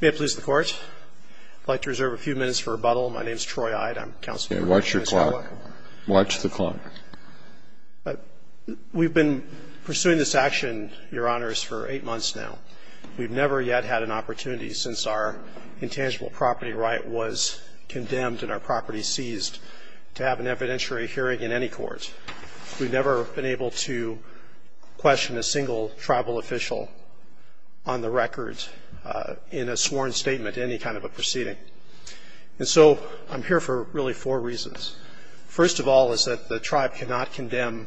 May it please the Court, I'd like to reserve a few minutes for rebuttal. My name is Troy Eide, I'm Counselor for Mr. Skywalk. Watch your clock. Watch the clock. We've been pursuing this action, Your Honors, for eight months now. We've never yet had an opportunity since our intangible property right was condemned and our property seized to have an evidentiary hearing in any court. We've never been able to question a single tribal official on the record in a sworn statement in any kind of a proceeding. And so I'm here for really four reasons. First of all is that the tribe cannot condemn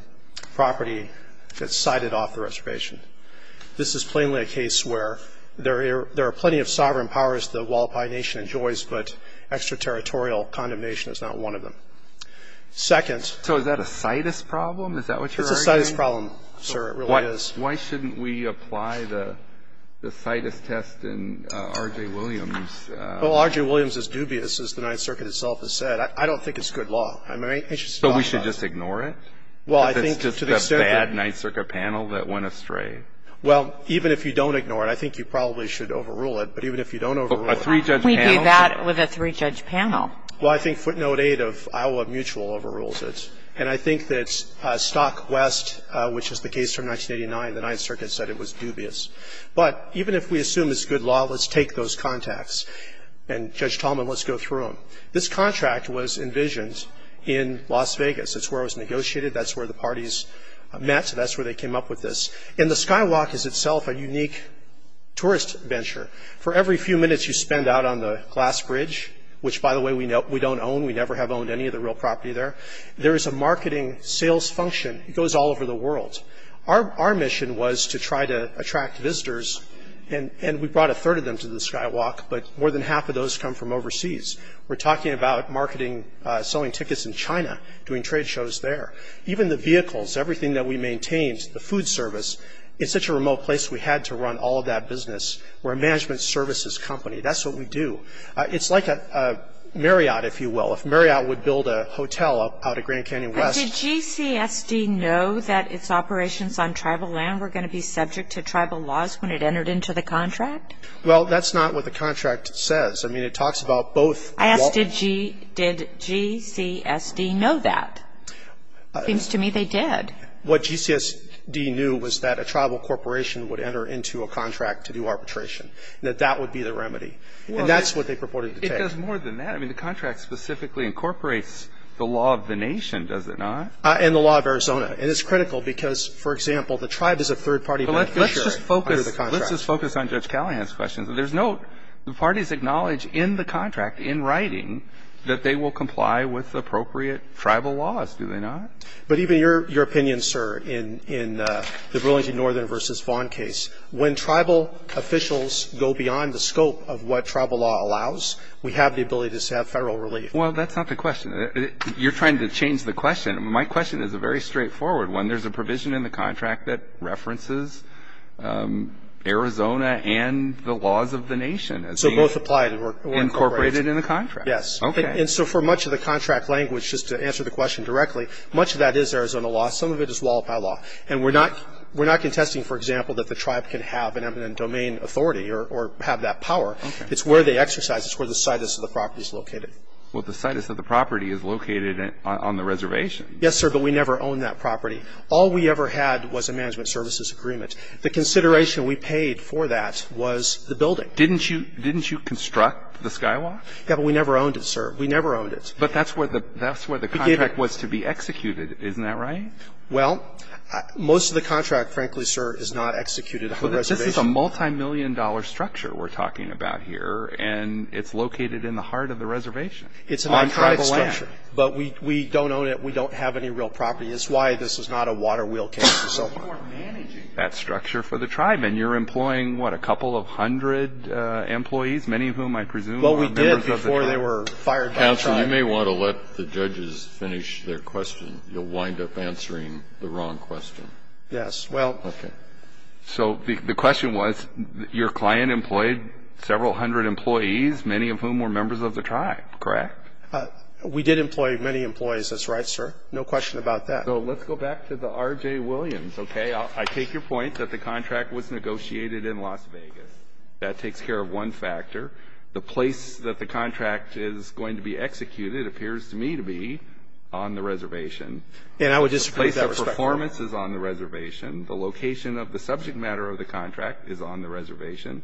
property that's cited off the reservation. This is plainly a case where there are plenty of sovereign powers the Hualapai Nation enjoys, but extraterritorial condemnation is not one of them. Second... So is that a CITES problem? Is that what you're arguing? It's a CITES problem, sir, it really is. Why shouldn't we apply the CITES test in R.J. Williams? Well, R.J. Williams is dubious, as the Ninth Circuit itself has said. I don't think it's good law. So we should just ignore it? Well, I think to the extent that... If it's just a bad Ninth Circuit panel that went astray. Well, even if you don't ignore it, I think you probably should overrule it, but even if you don't overrule it... A three-judge panel... We do that with a three-judge panel. Well, I think footnote 8 of Iowa Mutual overrules it. And I think that Stock West, which is the case from 1989, the Ninth Circuit said it was dubious. But even if we assume it's good law, let's take those contacts. And Judge Tallman, let's go through them. This contract was envisioned in Las Vegas. It's where it was negotiated. That's where the parties met. That's where they came up with this. And the Skywalk is itself a unique tourist venture. For every few minutes you spend out on the Glass Bridge, which, by the way, we don't own. We never have owned any of the real property there, there is a marketing sales function. It goes all over the world. Our mission was to try to attract visitors, and we brought a third of them to the Skywalk, but more than half of those come from overseas. We're talking about marketing, selling tickets in China, doing trade shows there. Even the vehicles, everything that we maintained, the food service, it's such a remote place we had to run all of that business. We're a management services company. That's what we do. It's like a Marriott, if you will. If Marriott would build a hotel out of Grand Canyon West. Did GCSD know that its operations on tribal land were going to be subject to tribal laws when it entered into the contract? Well, that's not what the contract says. I mean, it talks about both. I asked, did GCSD know that? It seems to me they did. What GCSD knew was that a tribal corporation would enter into a contract to do arbitration, that that would be the remedy. And that's what they purported to take. It does more than that. I mean, the contract specifically incorporates the law of the nation, does it not? And the law of Arizona. And it's critical because, for example, the tribe is a third-party bank. Let's just focus on Judge Callahan's questions. There's no – the parties acknowledge in the contract, in writing, that they will comply with appropriate tribal laws, do they not? But even your opinion, sir, in the Burlington Northern v. Vaughn case, when tribal officials go beyond the scope of what tribal law allows, we have the ability to have federal relief. Well, that's not the question. You're trying to change the question. My question is a very straightforward one. There's a provision in the contract that references Arizona and the laws of the nation. So both apply. Incorporated in the contract. Yes. Okay. And so for much of the contract language, just to answer the question directly, much of that is Arizona law. Some of it is wallop by law. And we're not contesting, for example, that the tribe can have an eminent domain authority or have that power. It's where they exercise it. It's where the situs of the property is located. Well, the situs of the property is located on the reservation. Yes, sir, but we never owned that property. All we ever had was a management services agreement. The consideration we paid for that was the building. Didn't you construct the skywalk? Yes, but we never owned it, sir. We never owned it. But that's where the contract was to be executed. Isn't that right? Well, most of the contract, frankly, sir, is not executed on the reservation. But this is a multimillion-dollar structure we're talking about here, and it's located in the heart of the reservation. It's a non-tribal land. On tribal land. But we don't own it. We don't have any real property. That's why this is not a water wheel case and so forth. You're managing that structure for the tribe, and you're employing, what, a couple of hundred employees, many of whom I presume were members of the tribe. Well, we did before they were fired by the tribe. Counsel, you may want to let the judges finish their question. You'll wind up answering the wrong question. Yes. Well, so the question was your client employed several hundred employees, many of whom were members of the tribe, correct? We did employ many employees. That's right, sir. No question about that. So let's go back to the R.J. Williams, okay? I take your point that the contract was negotiated in Las Vegas. That takes care of one factor. The place that the contract is going to be executed appears to me to be on the reservation. And I would disagree with that. The place of performance is on the reservation. The location of the subject matter of the contract is on the reservation.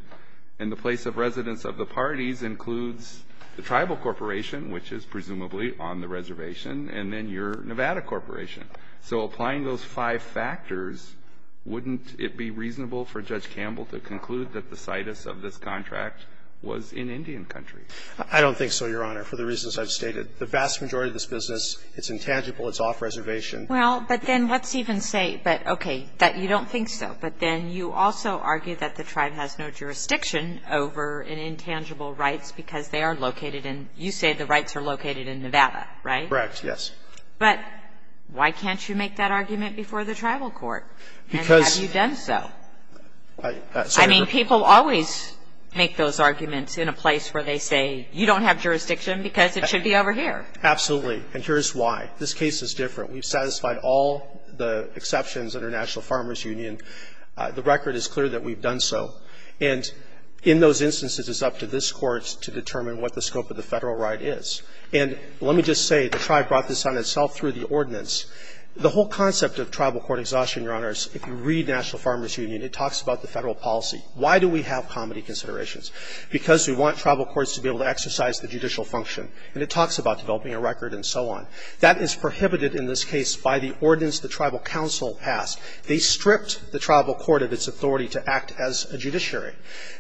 And the place of residence of the parties includes the tribal corporation, which is presumably on the reservation, and then your Nevada corporation. So applying those five factors, wouldn't it be reasonable for Judge Campbell to conclude that the situs of this contract was in Indian country? I don't think so, Your Honor, for the reasons I've stated. The vast majority of this business, it's intangible. It's off reservation. Well, but then let's even say, but, okay, that you don't think so. But then you also argue that the tribe has no jurisdiction over an intangible rights because they are located in you say the rights are located in Nevada, right? Correct, yes. But why can't you make that argument before the tribal court? Because you've done so. I mean, people always make those arguments in a place where they say, you don't have jurisdiction because it should be over here. Absolutely. And here's why. This case is different. We've satisfied all the exceptions under National Farmers Union. The record is clear that we've done so. And in those instances, it's up to this Court to determine what the scope of the Federal right is. And let me just say, the tribe brought this on itself through the ordinance. The whole concept of tribal court exhaustion, Your Honor, if you read National Farmers Union, it talks about the Federal policy. Why do we have comity considerations? Because we want tribal courts to be able to exercise the judicial function. And it talks about developing a record and so on. That is prohibited in this case by the ordinance the tribal council passed. They stripped the tribal court of its authority to act as a judiciary.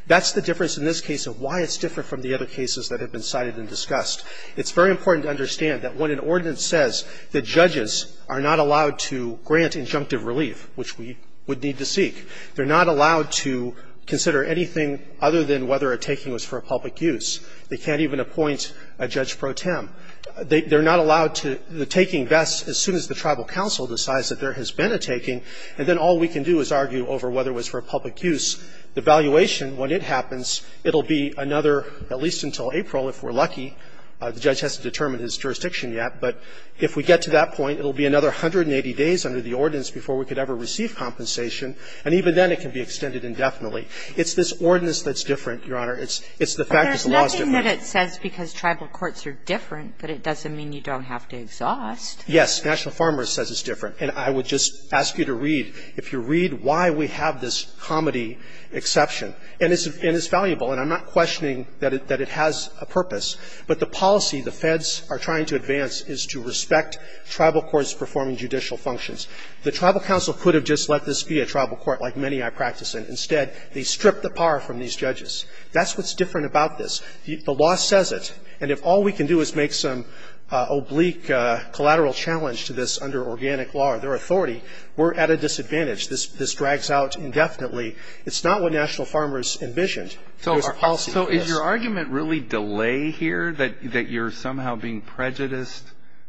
That's the difference in this case of why it's different from the other cases that have been cited and discussed. It's very important to understand that when an ordinance says that judges are not allowed to grant injunctive relief, which we would need to seek, they're not allowed to consider anything other than whether a taking was for a public use. They can't even appoint a judge pro tem. They're not allowed to the taking best as soon as the tribal council decides that there has been a taking, and then all we can do is argue over whether it was for a public use. The valuation, when it happens, it will be another, at least until April, if we're lucky. The judge hasn't determined his jurisdiction yet. But if we get to that point, it will be another 180 days under the ordinance before we could ever receive compensation, and even then it can be extended indefinitely. It's this ordinance that's different, Your Honor. It's the fact that the law is different. But there's nothing that it says because tribal courts are different that it doesn't mean you don't have to exhaust. Yes. National Farmers says it's different. And I would just ask you to read, if you read, why we have this comedy exception. And it's valuable. And I'm not questioning that it has a purpose. But the policy the feds are trying to advance is to respect tribal courts performing judicial functions. The tribal council could have just let this be a tribal court, like many I practice in. Instead, they stripped the power from these judges. That's what's different about this. The law says it. And if all we can do is make some oblique collateral challenge to this under organic law or their authority, we're at a disadvantage. This drags out indefinitely. It's not what National Farmers envisioned. So is your argument really delay here, that you're somehow being prejudiced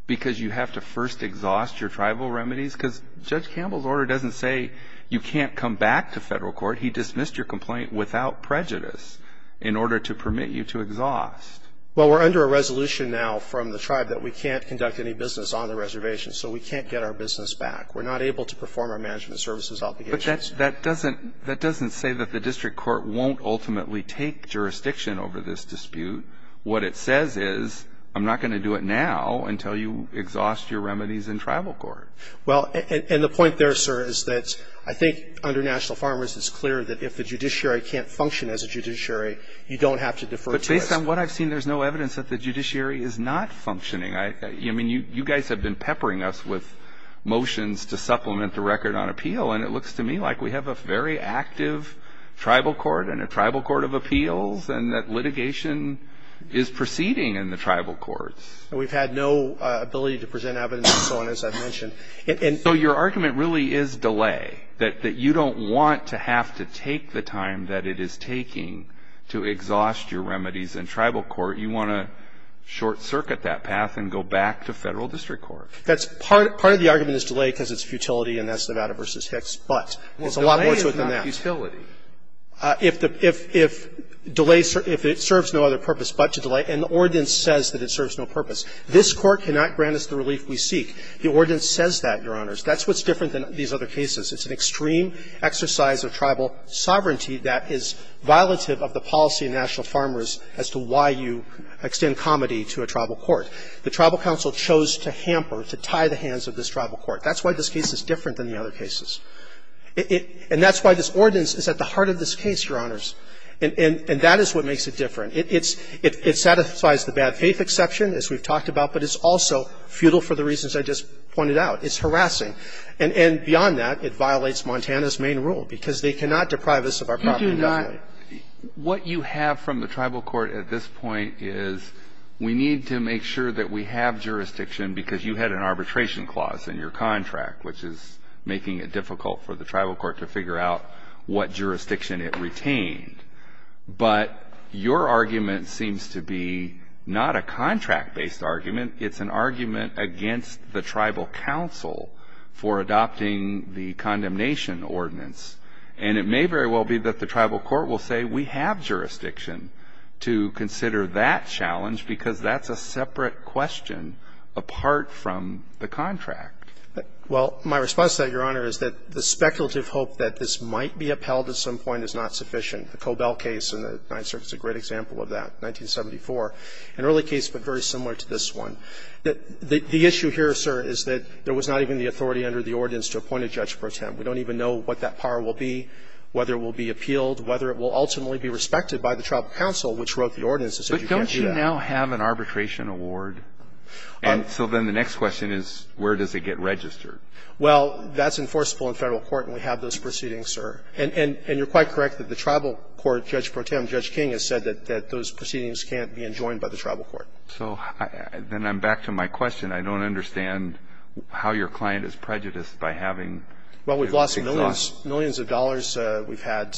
because you have to first exhaust your tribal remedies? Because Judge Campbell's order doesn't say you can't come back to federal court. He dismissed your complaint without prejudice in order to permit you to exhaust. Well, we're under a resolution now from the tribe that we can't conduct any business on the reservation. So we can't get our business back. We're not able to perform our management services obligations. That doesn't say that the district court won't ultimately take jurisdiction over this dispute. What it says is I'm not going to do it now until you exhaust your remedies in tribal court. Well, and the point there, sir, is that I think under National Farmers it's clear that if the judiciary can't function as a judiciary, you don't have to defer to us. But based on what I've seen, there's no evidence that the judiciary is not functioning. I mean, you guys have been peppering us with motions to supplement the record on tribal court. It's like we have a very active tribal court and a tribal court of appeals and that litigation is proceeding in the tribal courts. We've had no ability to present evidence and so on, as I've mentioned. So your argument really is delay, that you don't want to have to take the time that it is taking to exhaust your remedies in tribal court. You want to short-circuit that path and go back to federal district court. Part of the argument is delay because it's futility and that's Nevada v. Hicks, but it's a lot more to it than that. If delay serves no other purpose but to delay, and the ordinance says that it serves no purpose, this Court cannot grant us the relief we seek. The ordinance says that, Your Honors. That's what's different than these other cases. It's an extreme exercise of tribal sovereignty that is violative of the policy of National Farmers as to why you extend comity to a tribal court. The Tribal Council chose to hamper, to tie the hands of this tribal court. That's why this case is different than the other cases. And that's why this ordinance is at the heart of this case, Your Honors. And that is what makes it different. It satisfies the bad faith exception, as we've talked about, but it's also futile for the reasons I just pointed out. It's harassing. And beyond that, it violates Montana's main rule, because they cannot deprive us of our property. Kennedy. What you have from the tribal court at this point is we need to make sure that we have jurisdiction, because you had an arbitration clause in your contract, which is making it difficult for the tribal court to figure out what jurisdiction it retained. But your argument seems to be not a contract-based argument. It's an argument against the Tribal Council for adopting the condemnation ordinance. And it may very well be that the tribal court will say, We have jurisdiction to consider that challenge, because that's a separate question apart from the contract. Well, my response to that, Your Honor, is that the speculative hope that this might be upheld at some point is not sufficient. The Cobell case in the Ninth Circuit is a great example of that, 1974. An early case, but very similar to this one. The issue here, sir, is that there was not even the authority under the ordinance to appoint a judge pro tempore. We don't even know what that power will be, whether it will be appealed, whether it will ultimately be respected by the Tribal Council, which wrote the ordinance and said you can't do that. But don't you now have an arbitration award? And so then the next question is, where does it get registered? Well, that's enforceable in Federal court, and we have those proceedings, sir. And you're quite correct that the tribal court, Judge Pro Tempore, Judge King, has said that those proceedings can't be enjoined by the tribal court. So then I'm back to my question. I don't understand how your client is prejudiced by having it exhausted. Well, we've lost millions of dollars. We've had,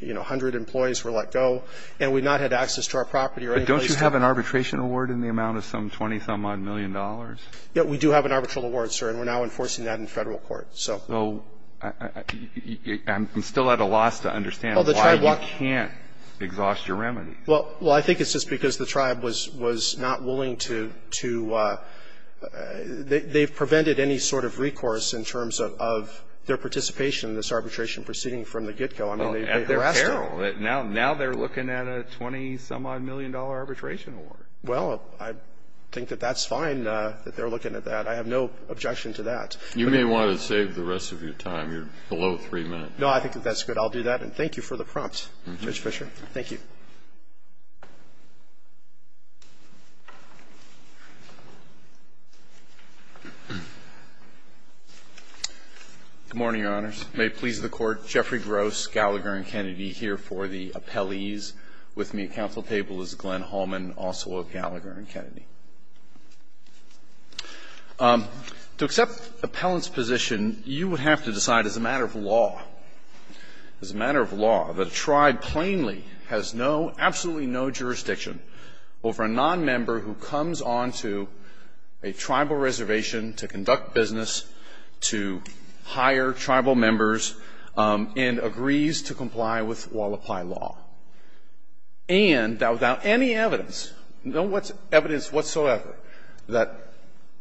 you know, 100 employees were let go, and we've not had access to our property or any place else. But don't you have an arbitration award in the amount of some 20-some-odd million dollars? Yes, we do have an arbitral award, sir, and we're now enforcing that in Federal court, so. So I'm still at a loss to understand why you can't exhaust your remedies. Well, I think it's just because the tribe was not willing to – they've prevented any sort of recourse in terms of their participation in this arbitration proceeding from the get-go. Well, at their peril. Now they're looking at a 20-some-odd million dollar arbitration award. Well, I think that that's fine that they're looking at that. I have no objection to that. You may want to save the rest of your time. You're below three minutes. No, I think that that's good. I'll do that, and thank you for the prompt, Judge Fischer. Thank you. Good morning, Your Honors. May it please the Court. Jeffrey Gross, Gallagher & Kennedy, here for the appellees. With me at counsel table is Glenn Hallman, also of Gallagher & Kennedy. To accept appellant's position, you would have to decide as a matter of law, as a matter of law, that a tribe plainly has no, absolutely no jurisdiction over a nonmember who comes on to a tribal reservation to conduct business, to hire tribal members, and agrees to comply with Walla Pye law. And that without any evidence, no evidence whatsoever, that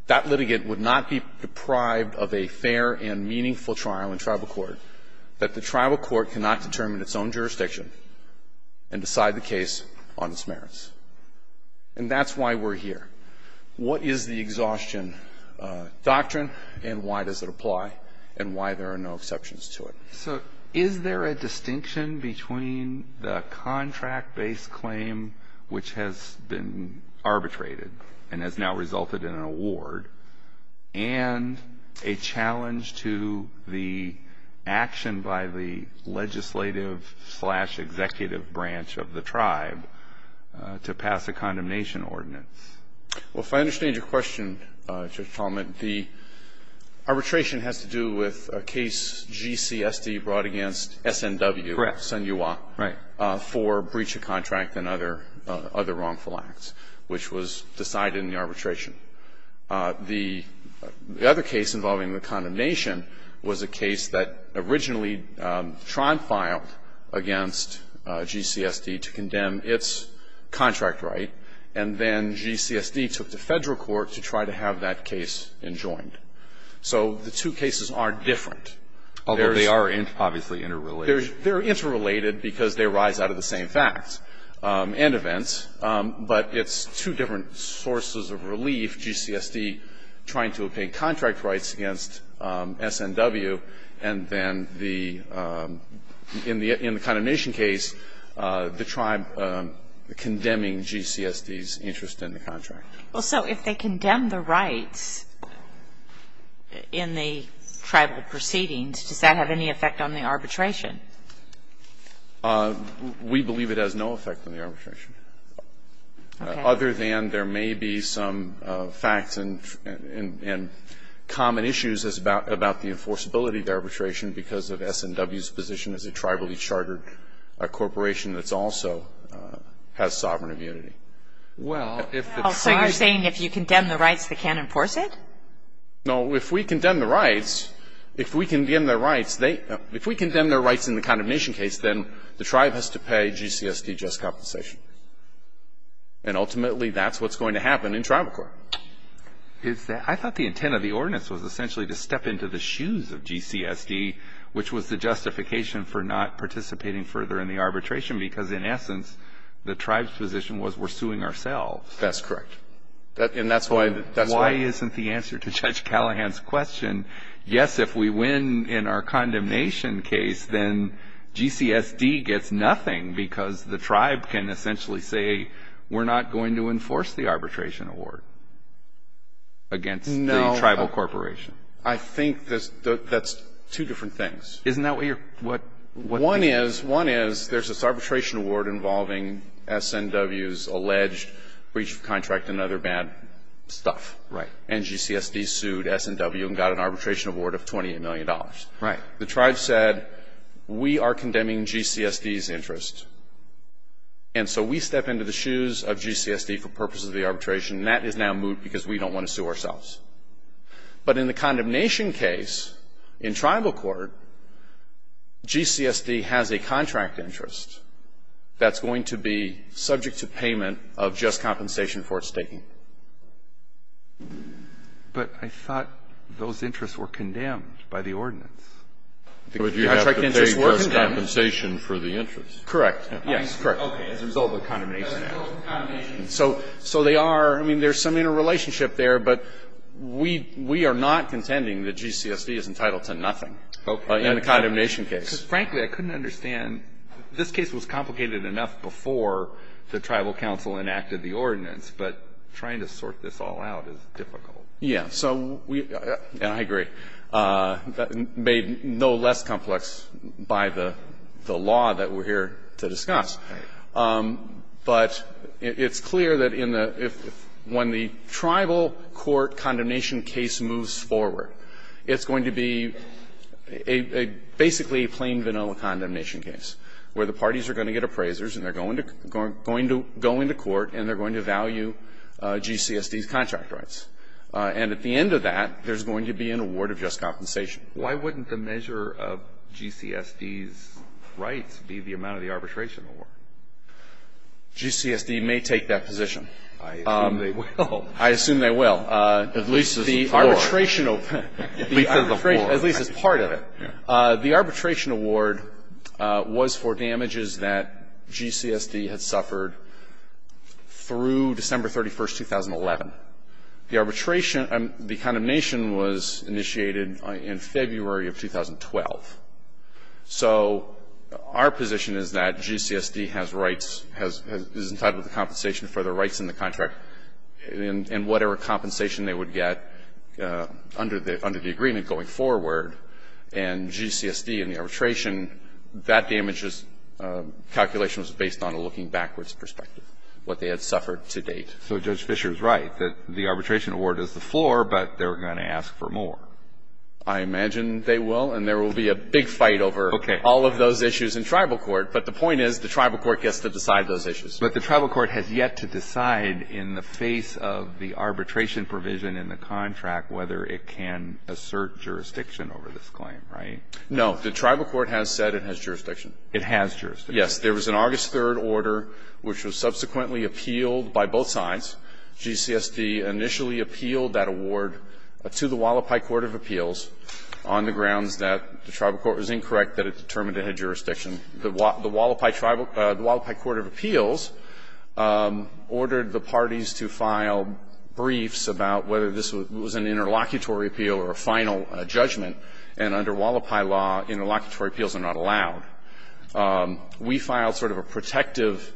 that litigant would not be deprived of a fair and meaningful trial in tribal court, that the tribal court cannot determine its own jurisdiction and decide the case on its merits. And that's why we're here. What is the exhaustion doctrine, and why does it apply, and why there are no exceptions to it? So is there a distinction between the contract-based claim, which has been arbitrated and has now resulted in an award, and a challenge to the action by the legislative slash executive branch of the tribe to pass a condemnation ordinance? Well, if I understand your question, Judge Talmadge, the arbitration has to do with a case G.C.S.D. brought against S.N.W. Correct. S.N.U.A. Right. For breach of contract and other wrongful acts, which was decided in the arbitration. The other case involving the condemnation was a case that originally Tron filed against G.C.S.D. to condemn its contract right, and then G.C.S.D. took to Federal court to try to have that case enjoined. So the two cases are different. Although they are obviously interrelated. They're interrelated because they arise out of the same facts and events, but it's two different sources of relief, G.C.S.D. trying to obtain contract rights against S.N.W. and then the, in the condemnation case, the tribe condemning G.C.S.D.'s interest in the contract. Well, so if they condemn the rights in the tribal proceedings, does that have any effect on the arbitration? We believe it has no effect on the arbitration. Okay. Other than there may be some facts and common issues about the enforceability of the arbitration because of S.N.W.'s position as a tribally chartered corporation that's also has sovereign immunity. Well, if it's saying if you condemn the rights, they can't enforce it? No. If we condemn the rights, if we condemn their rights, they, if we condemn their rights in the condemnation case, then the tribe has to pay G.C.S.D. just compensation. And ultimately, that's what's going to happen in tribal court. I thought the intent of the ordinance was essentially to step into the shoes of G.C.S.D., which was the justification for not participating further in the arbitration because, in essence, the tribe's position was we're suing ourselves. That's correct. And that's why. Why isn't the answer to Judge Callahan's question, yes, if we win in our condemnation case, then G.C.S.D. gets nothing because the tribe can essentially say we're not going to enforce the arbitration award against the tribal corporation? No. I think that's two different things. Isn't that what you're, what. One is, one is, there's this arbitration award involving S.N.W.'s alleged breach of contract and other bad stuff. Right. And G.C.S.D. sued S.N.W. and got an arbitration award of $28 million. Right. The tribe said we are condemning G.C.S.D.'s interest, and so we step into the shoes of G.C.S.D. for purposes of the arbitration, and that is now moot because we don't want to sue ourselves. But in the condemnation case, in tribal court, G.C.S.D. has a contract interest that's going to be subject to payment of just compensation for its taking. But I thought those interests were condemned by the ordinance. The contract interests were condemned. But you have to pay just compensation for the interest. Correct. Yes, correct. Okay. As a result of the condemnation act. As a result of the condemnation act. So they are, I mean, there's some interrelationship there, but we are not contending that G.C.S.D. is entitled to nothing. Okay. In the condemnation case. Frankly, I couldn't understand. This case was complicated enough before the tribal council enacted the ordinance, but trying to sort this all out is difficult. Yes. So we, and I agree, made no less complex by the law that we're here to discuss. But it's clear that in the, when the tribal court condemnation case moves forward, it's going to be a basically a plain vanilla condemnation case where the parties are going to get appraisers and they're going to go into court and they're going to value G.C.S.D.'s contract rights. And at the end of that, there's going to be an award of just compensation. Why wouldn't the measure of G.C.S.D.'s rights be the amount of the arbitration award? G.C.S.D. may take that position. I assume they will. I assume they will. At least as part of it. The arbitration award was for damages that G.C.S.D. had suffered through December 31, 2011. The arbitration, the condemnation was initiated in February of 2012. So our position is that G.C.S.D. has rights, is entitled to compensation for the rights in the contract and whatever compensation they would get under the agreement going forward. And G.C.S.D. and the arbitration, that damages calculation was based on a looking backwards perspective, what they had suffered to date. So Judge Fischer is right that the arbitration award is the floor, but they're going to ask for more. I imagine they will. And there will be a big fight over all of those issues in tribal court. But the point is the tribal court gets to decide those issues. But the tribal court has yet to decide in the face of the arbitration provision in the contract whether it can assert jurisdiction over this claim, right? No. The tribal court has said it has jurisdiction. It has jurisdiction. Yes. There was an August 3rd order which was subsequently appealed by both sides. G.C.S.D. initially appealed that award to the Hualapai Court of Appeals on the grounds that the tribal court was incorrect, that it determined it had jurisdiction. The Hualapai Court of Appeals ordered the parties to file briefs about whether this was an interlocutory appeal or a final judgment. And under Hualapai law, interlocutory appeals are not allowed. We filed sort of a protective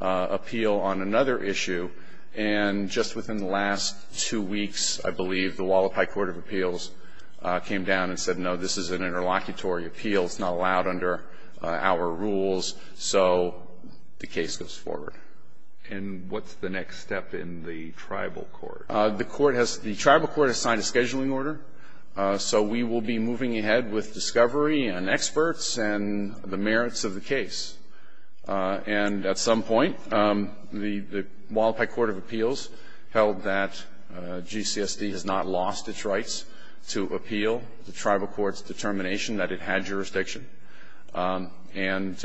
appeal on another issue. And just within the last two weeks, I believe, the Hualapai Court of Appeals came down and said, no, this is an interlocutory appeal. It's not allowed under our rules. So the case goes forward. And what's the next step in the tribal court? The court has the tribal court has signed a scheduling order. So we will be moving ahead with discovery and experts and the merits of the case. And at some point, the Hualapai Court of Appeals held that G.C.S.D. has not lost its rights to appeal the tribal court's determination that it had jurisdiction. And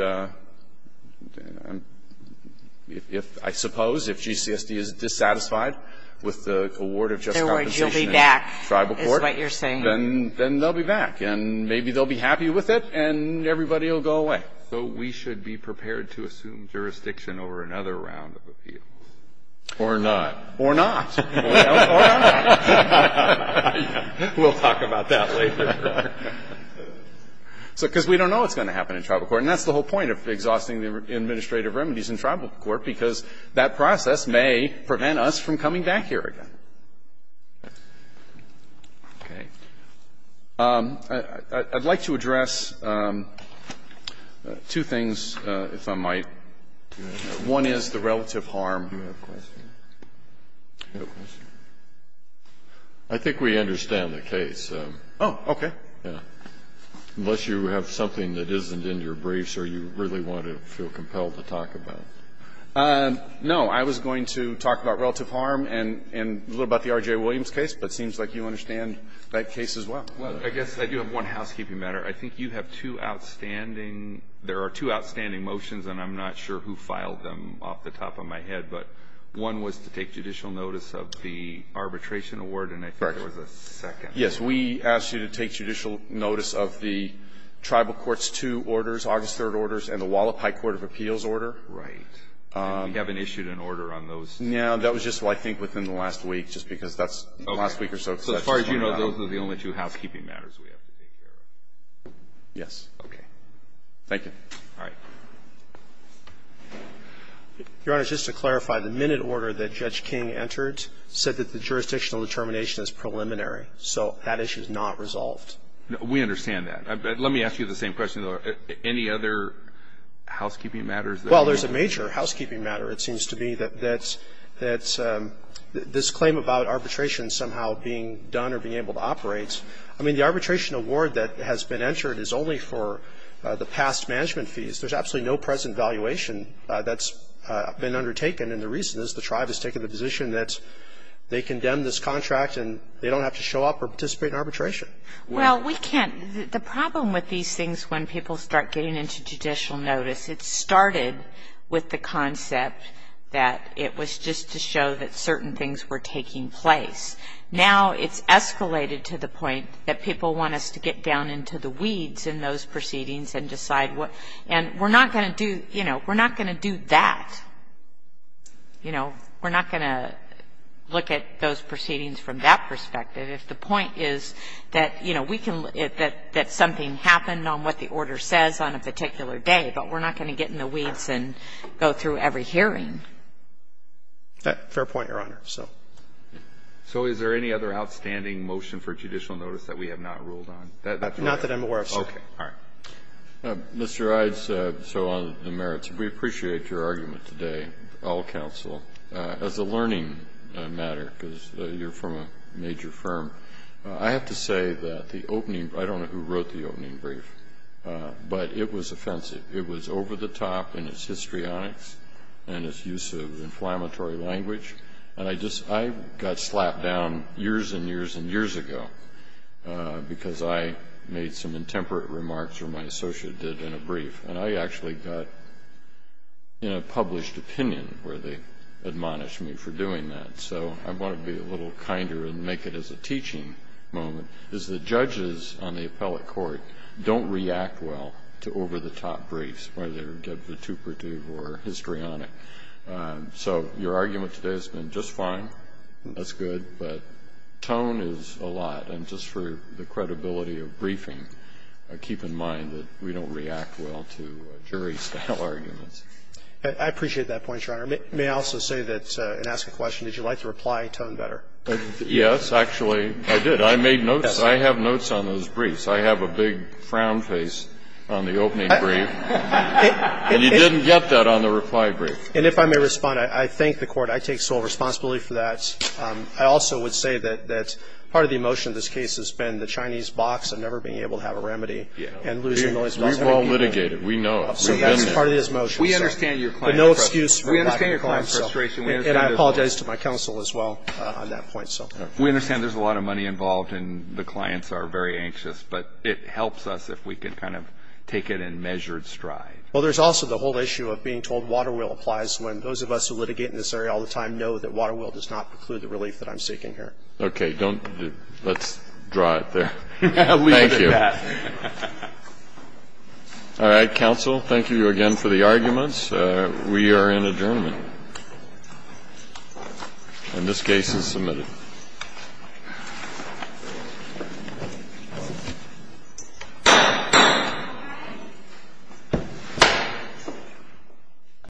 if, I suppose, if G.C.S.D. is dissatisfied with the award of just compensation in the tribal court, then they'll be back. And maybe they'll be happy with it, and everybody will go away. So we should be prepared to assume jurisdiction over another round of appeals. Or not. Or not. Or not. We'll talk about that later. Because we don't know what's going to happen in tribal court. And that's the whole point of exhausting the administrative remedies in tribal court, because that process may prevent us from coming back here again. Okay. I'd like to address two things, if I might. One is the relative harm. Do you have a question? Do you have a question? I think we understand the case. Oh, okay. Yeah. Unless you have something that isn't in your briefs or you really want to feel compelled to talk about. No. I was going to talk about relative harm and a little about the R.J. Williams case, but it seems like you understand that case as well. Well, I guess I do have one housekeeping matter. I think you have two outstanding – there are two outstanding motions, and I'm not sure who filed them off the top of my head, but one was to take judicial notice of the arbitration award. Correct. And I think there was a second. Yes. We asked you to take judicial notice of the tribal court's two orders, August 3rd orders, and the Wallapai Court of Appeals order. Right. And you haven't issued an order on those. No. That was just, I think, within the last week, just because that's the last week or so. Okay. So as far as you know, those are the only two housekeeping matters we have to take care of. Yes. Okay. Thank you. All right. Your Honor, just to clarify, the minute order that Judge King entered said that the jurisdictional determination is preliminary. So that issue is not resolved. We understand that. Let me ask you the same question, though. Any other housekeeping matters? Well, there's a major housekeeping matter, it seems to me, that this claim about arbitration somehow being done or being able to operate, I mean, the arbitration award that has been entered is only for the past management fees. There's absolutely no present valuation that's been undertaken. And the reason is the tribe has taken the position that they condemn this contract and they don't have to show up or participate in arbitration. Well, we can't. The problem with these things when people start getting into judicial notice, it started with the concept that it was just to show that certain things were taking place. Now it's escalated to the point that people want us to get down into the weeds in those proceedings and decide what. And we're not going to do, you know, we're not going to do that. You know, we're not going to look at those proceedings from that perspective if the point is that, you know, we can look at that something happened on what the order says on a particular day, but we're not going to get in the weeds and go through every hearing. Fair point, Your Honor. So. So is there any other outstanding motion for judicial notice that we have not ruled on? Not that I'm aware of, sir. Okay. All right. Mr. Ides, so on the merits, we appreciate your argument today, all counsel, as a learning matter, because you're from a major firm. I have to say that the opening brief, I don't know who wrote the opening brief, but it was offensive. It was over the top in its histrionics and its use of inflammatory language. And I just, I got slapped down years and years and years ago because I made some intemperate remarks, or my associate did, in a brief. And I actually got, you know, published opinion where they admonished me for doing that. So I want to be a little kinder and make it as a teaching moment, because the judges on the appellate court don't react well to over the top briefs, whether they're get vituperative or histrionic. So your argument today has been just fine. That's good. But tone is a lot. And just for the credibility of briefing, keep in mind that we don't react well to jury-style arguments. I appreciate that point, Your Honor. May I also say that, and ask a question, did you like the reply tone better? Yes. Actually, I did. I made notes. I have notes on those briefs. I have a big frown face on the opening brief. And you didn't get that on the reply brief. And if I may respond, I thank the Court. I take sole responsibility for that. I also would say that part of the emotion of this case has been the Chinese box and never being able to have a remedy and losing millions of dollars. We've all litigated. We know it. We've been there. We understand your client frustration. We understand your client frustration. And I apologize to my counsel as well on that point. We understand there's a lot of money involved and the clients are very anxious, but it helps us if we can kind of take it in measured stride. Well, there's also the whole issue of being told water will applies when those of us who litigate in this area all the time know that water will does not preclude the relief that I'm seeking here. Okay. Let's draw it there. Thank you. All right. Counsel, thank you again for the arguments. We are in adjournment. And this case is submitted. Thank you.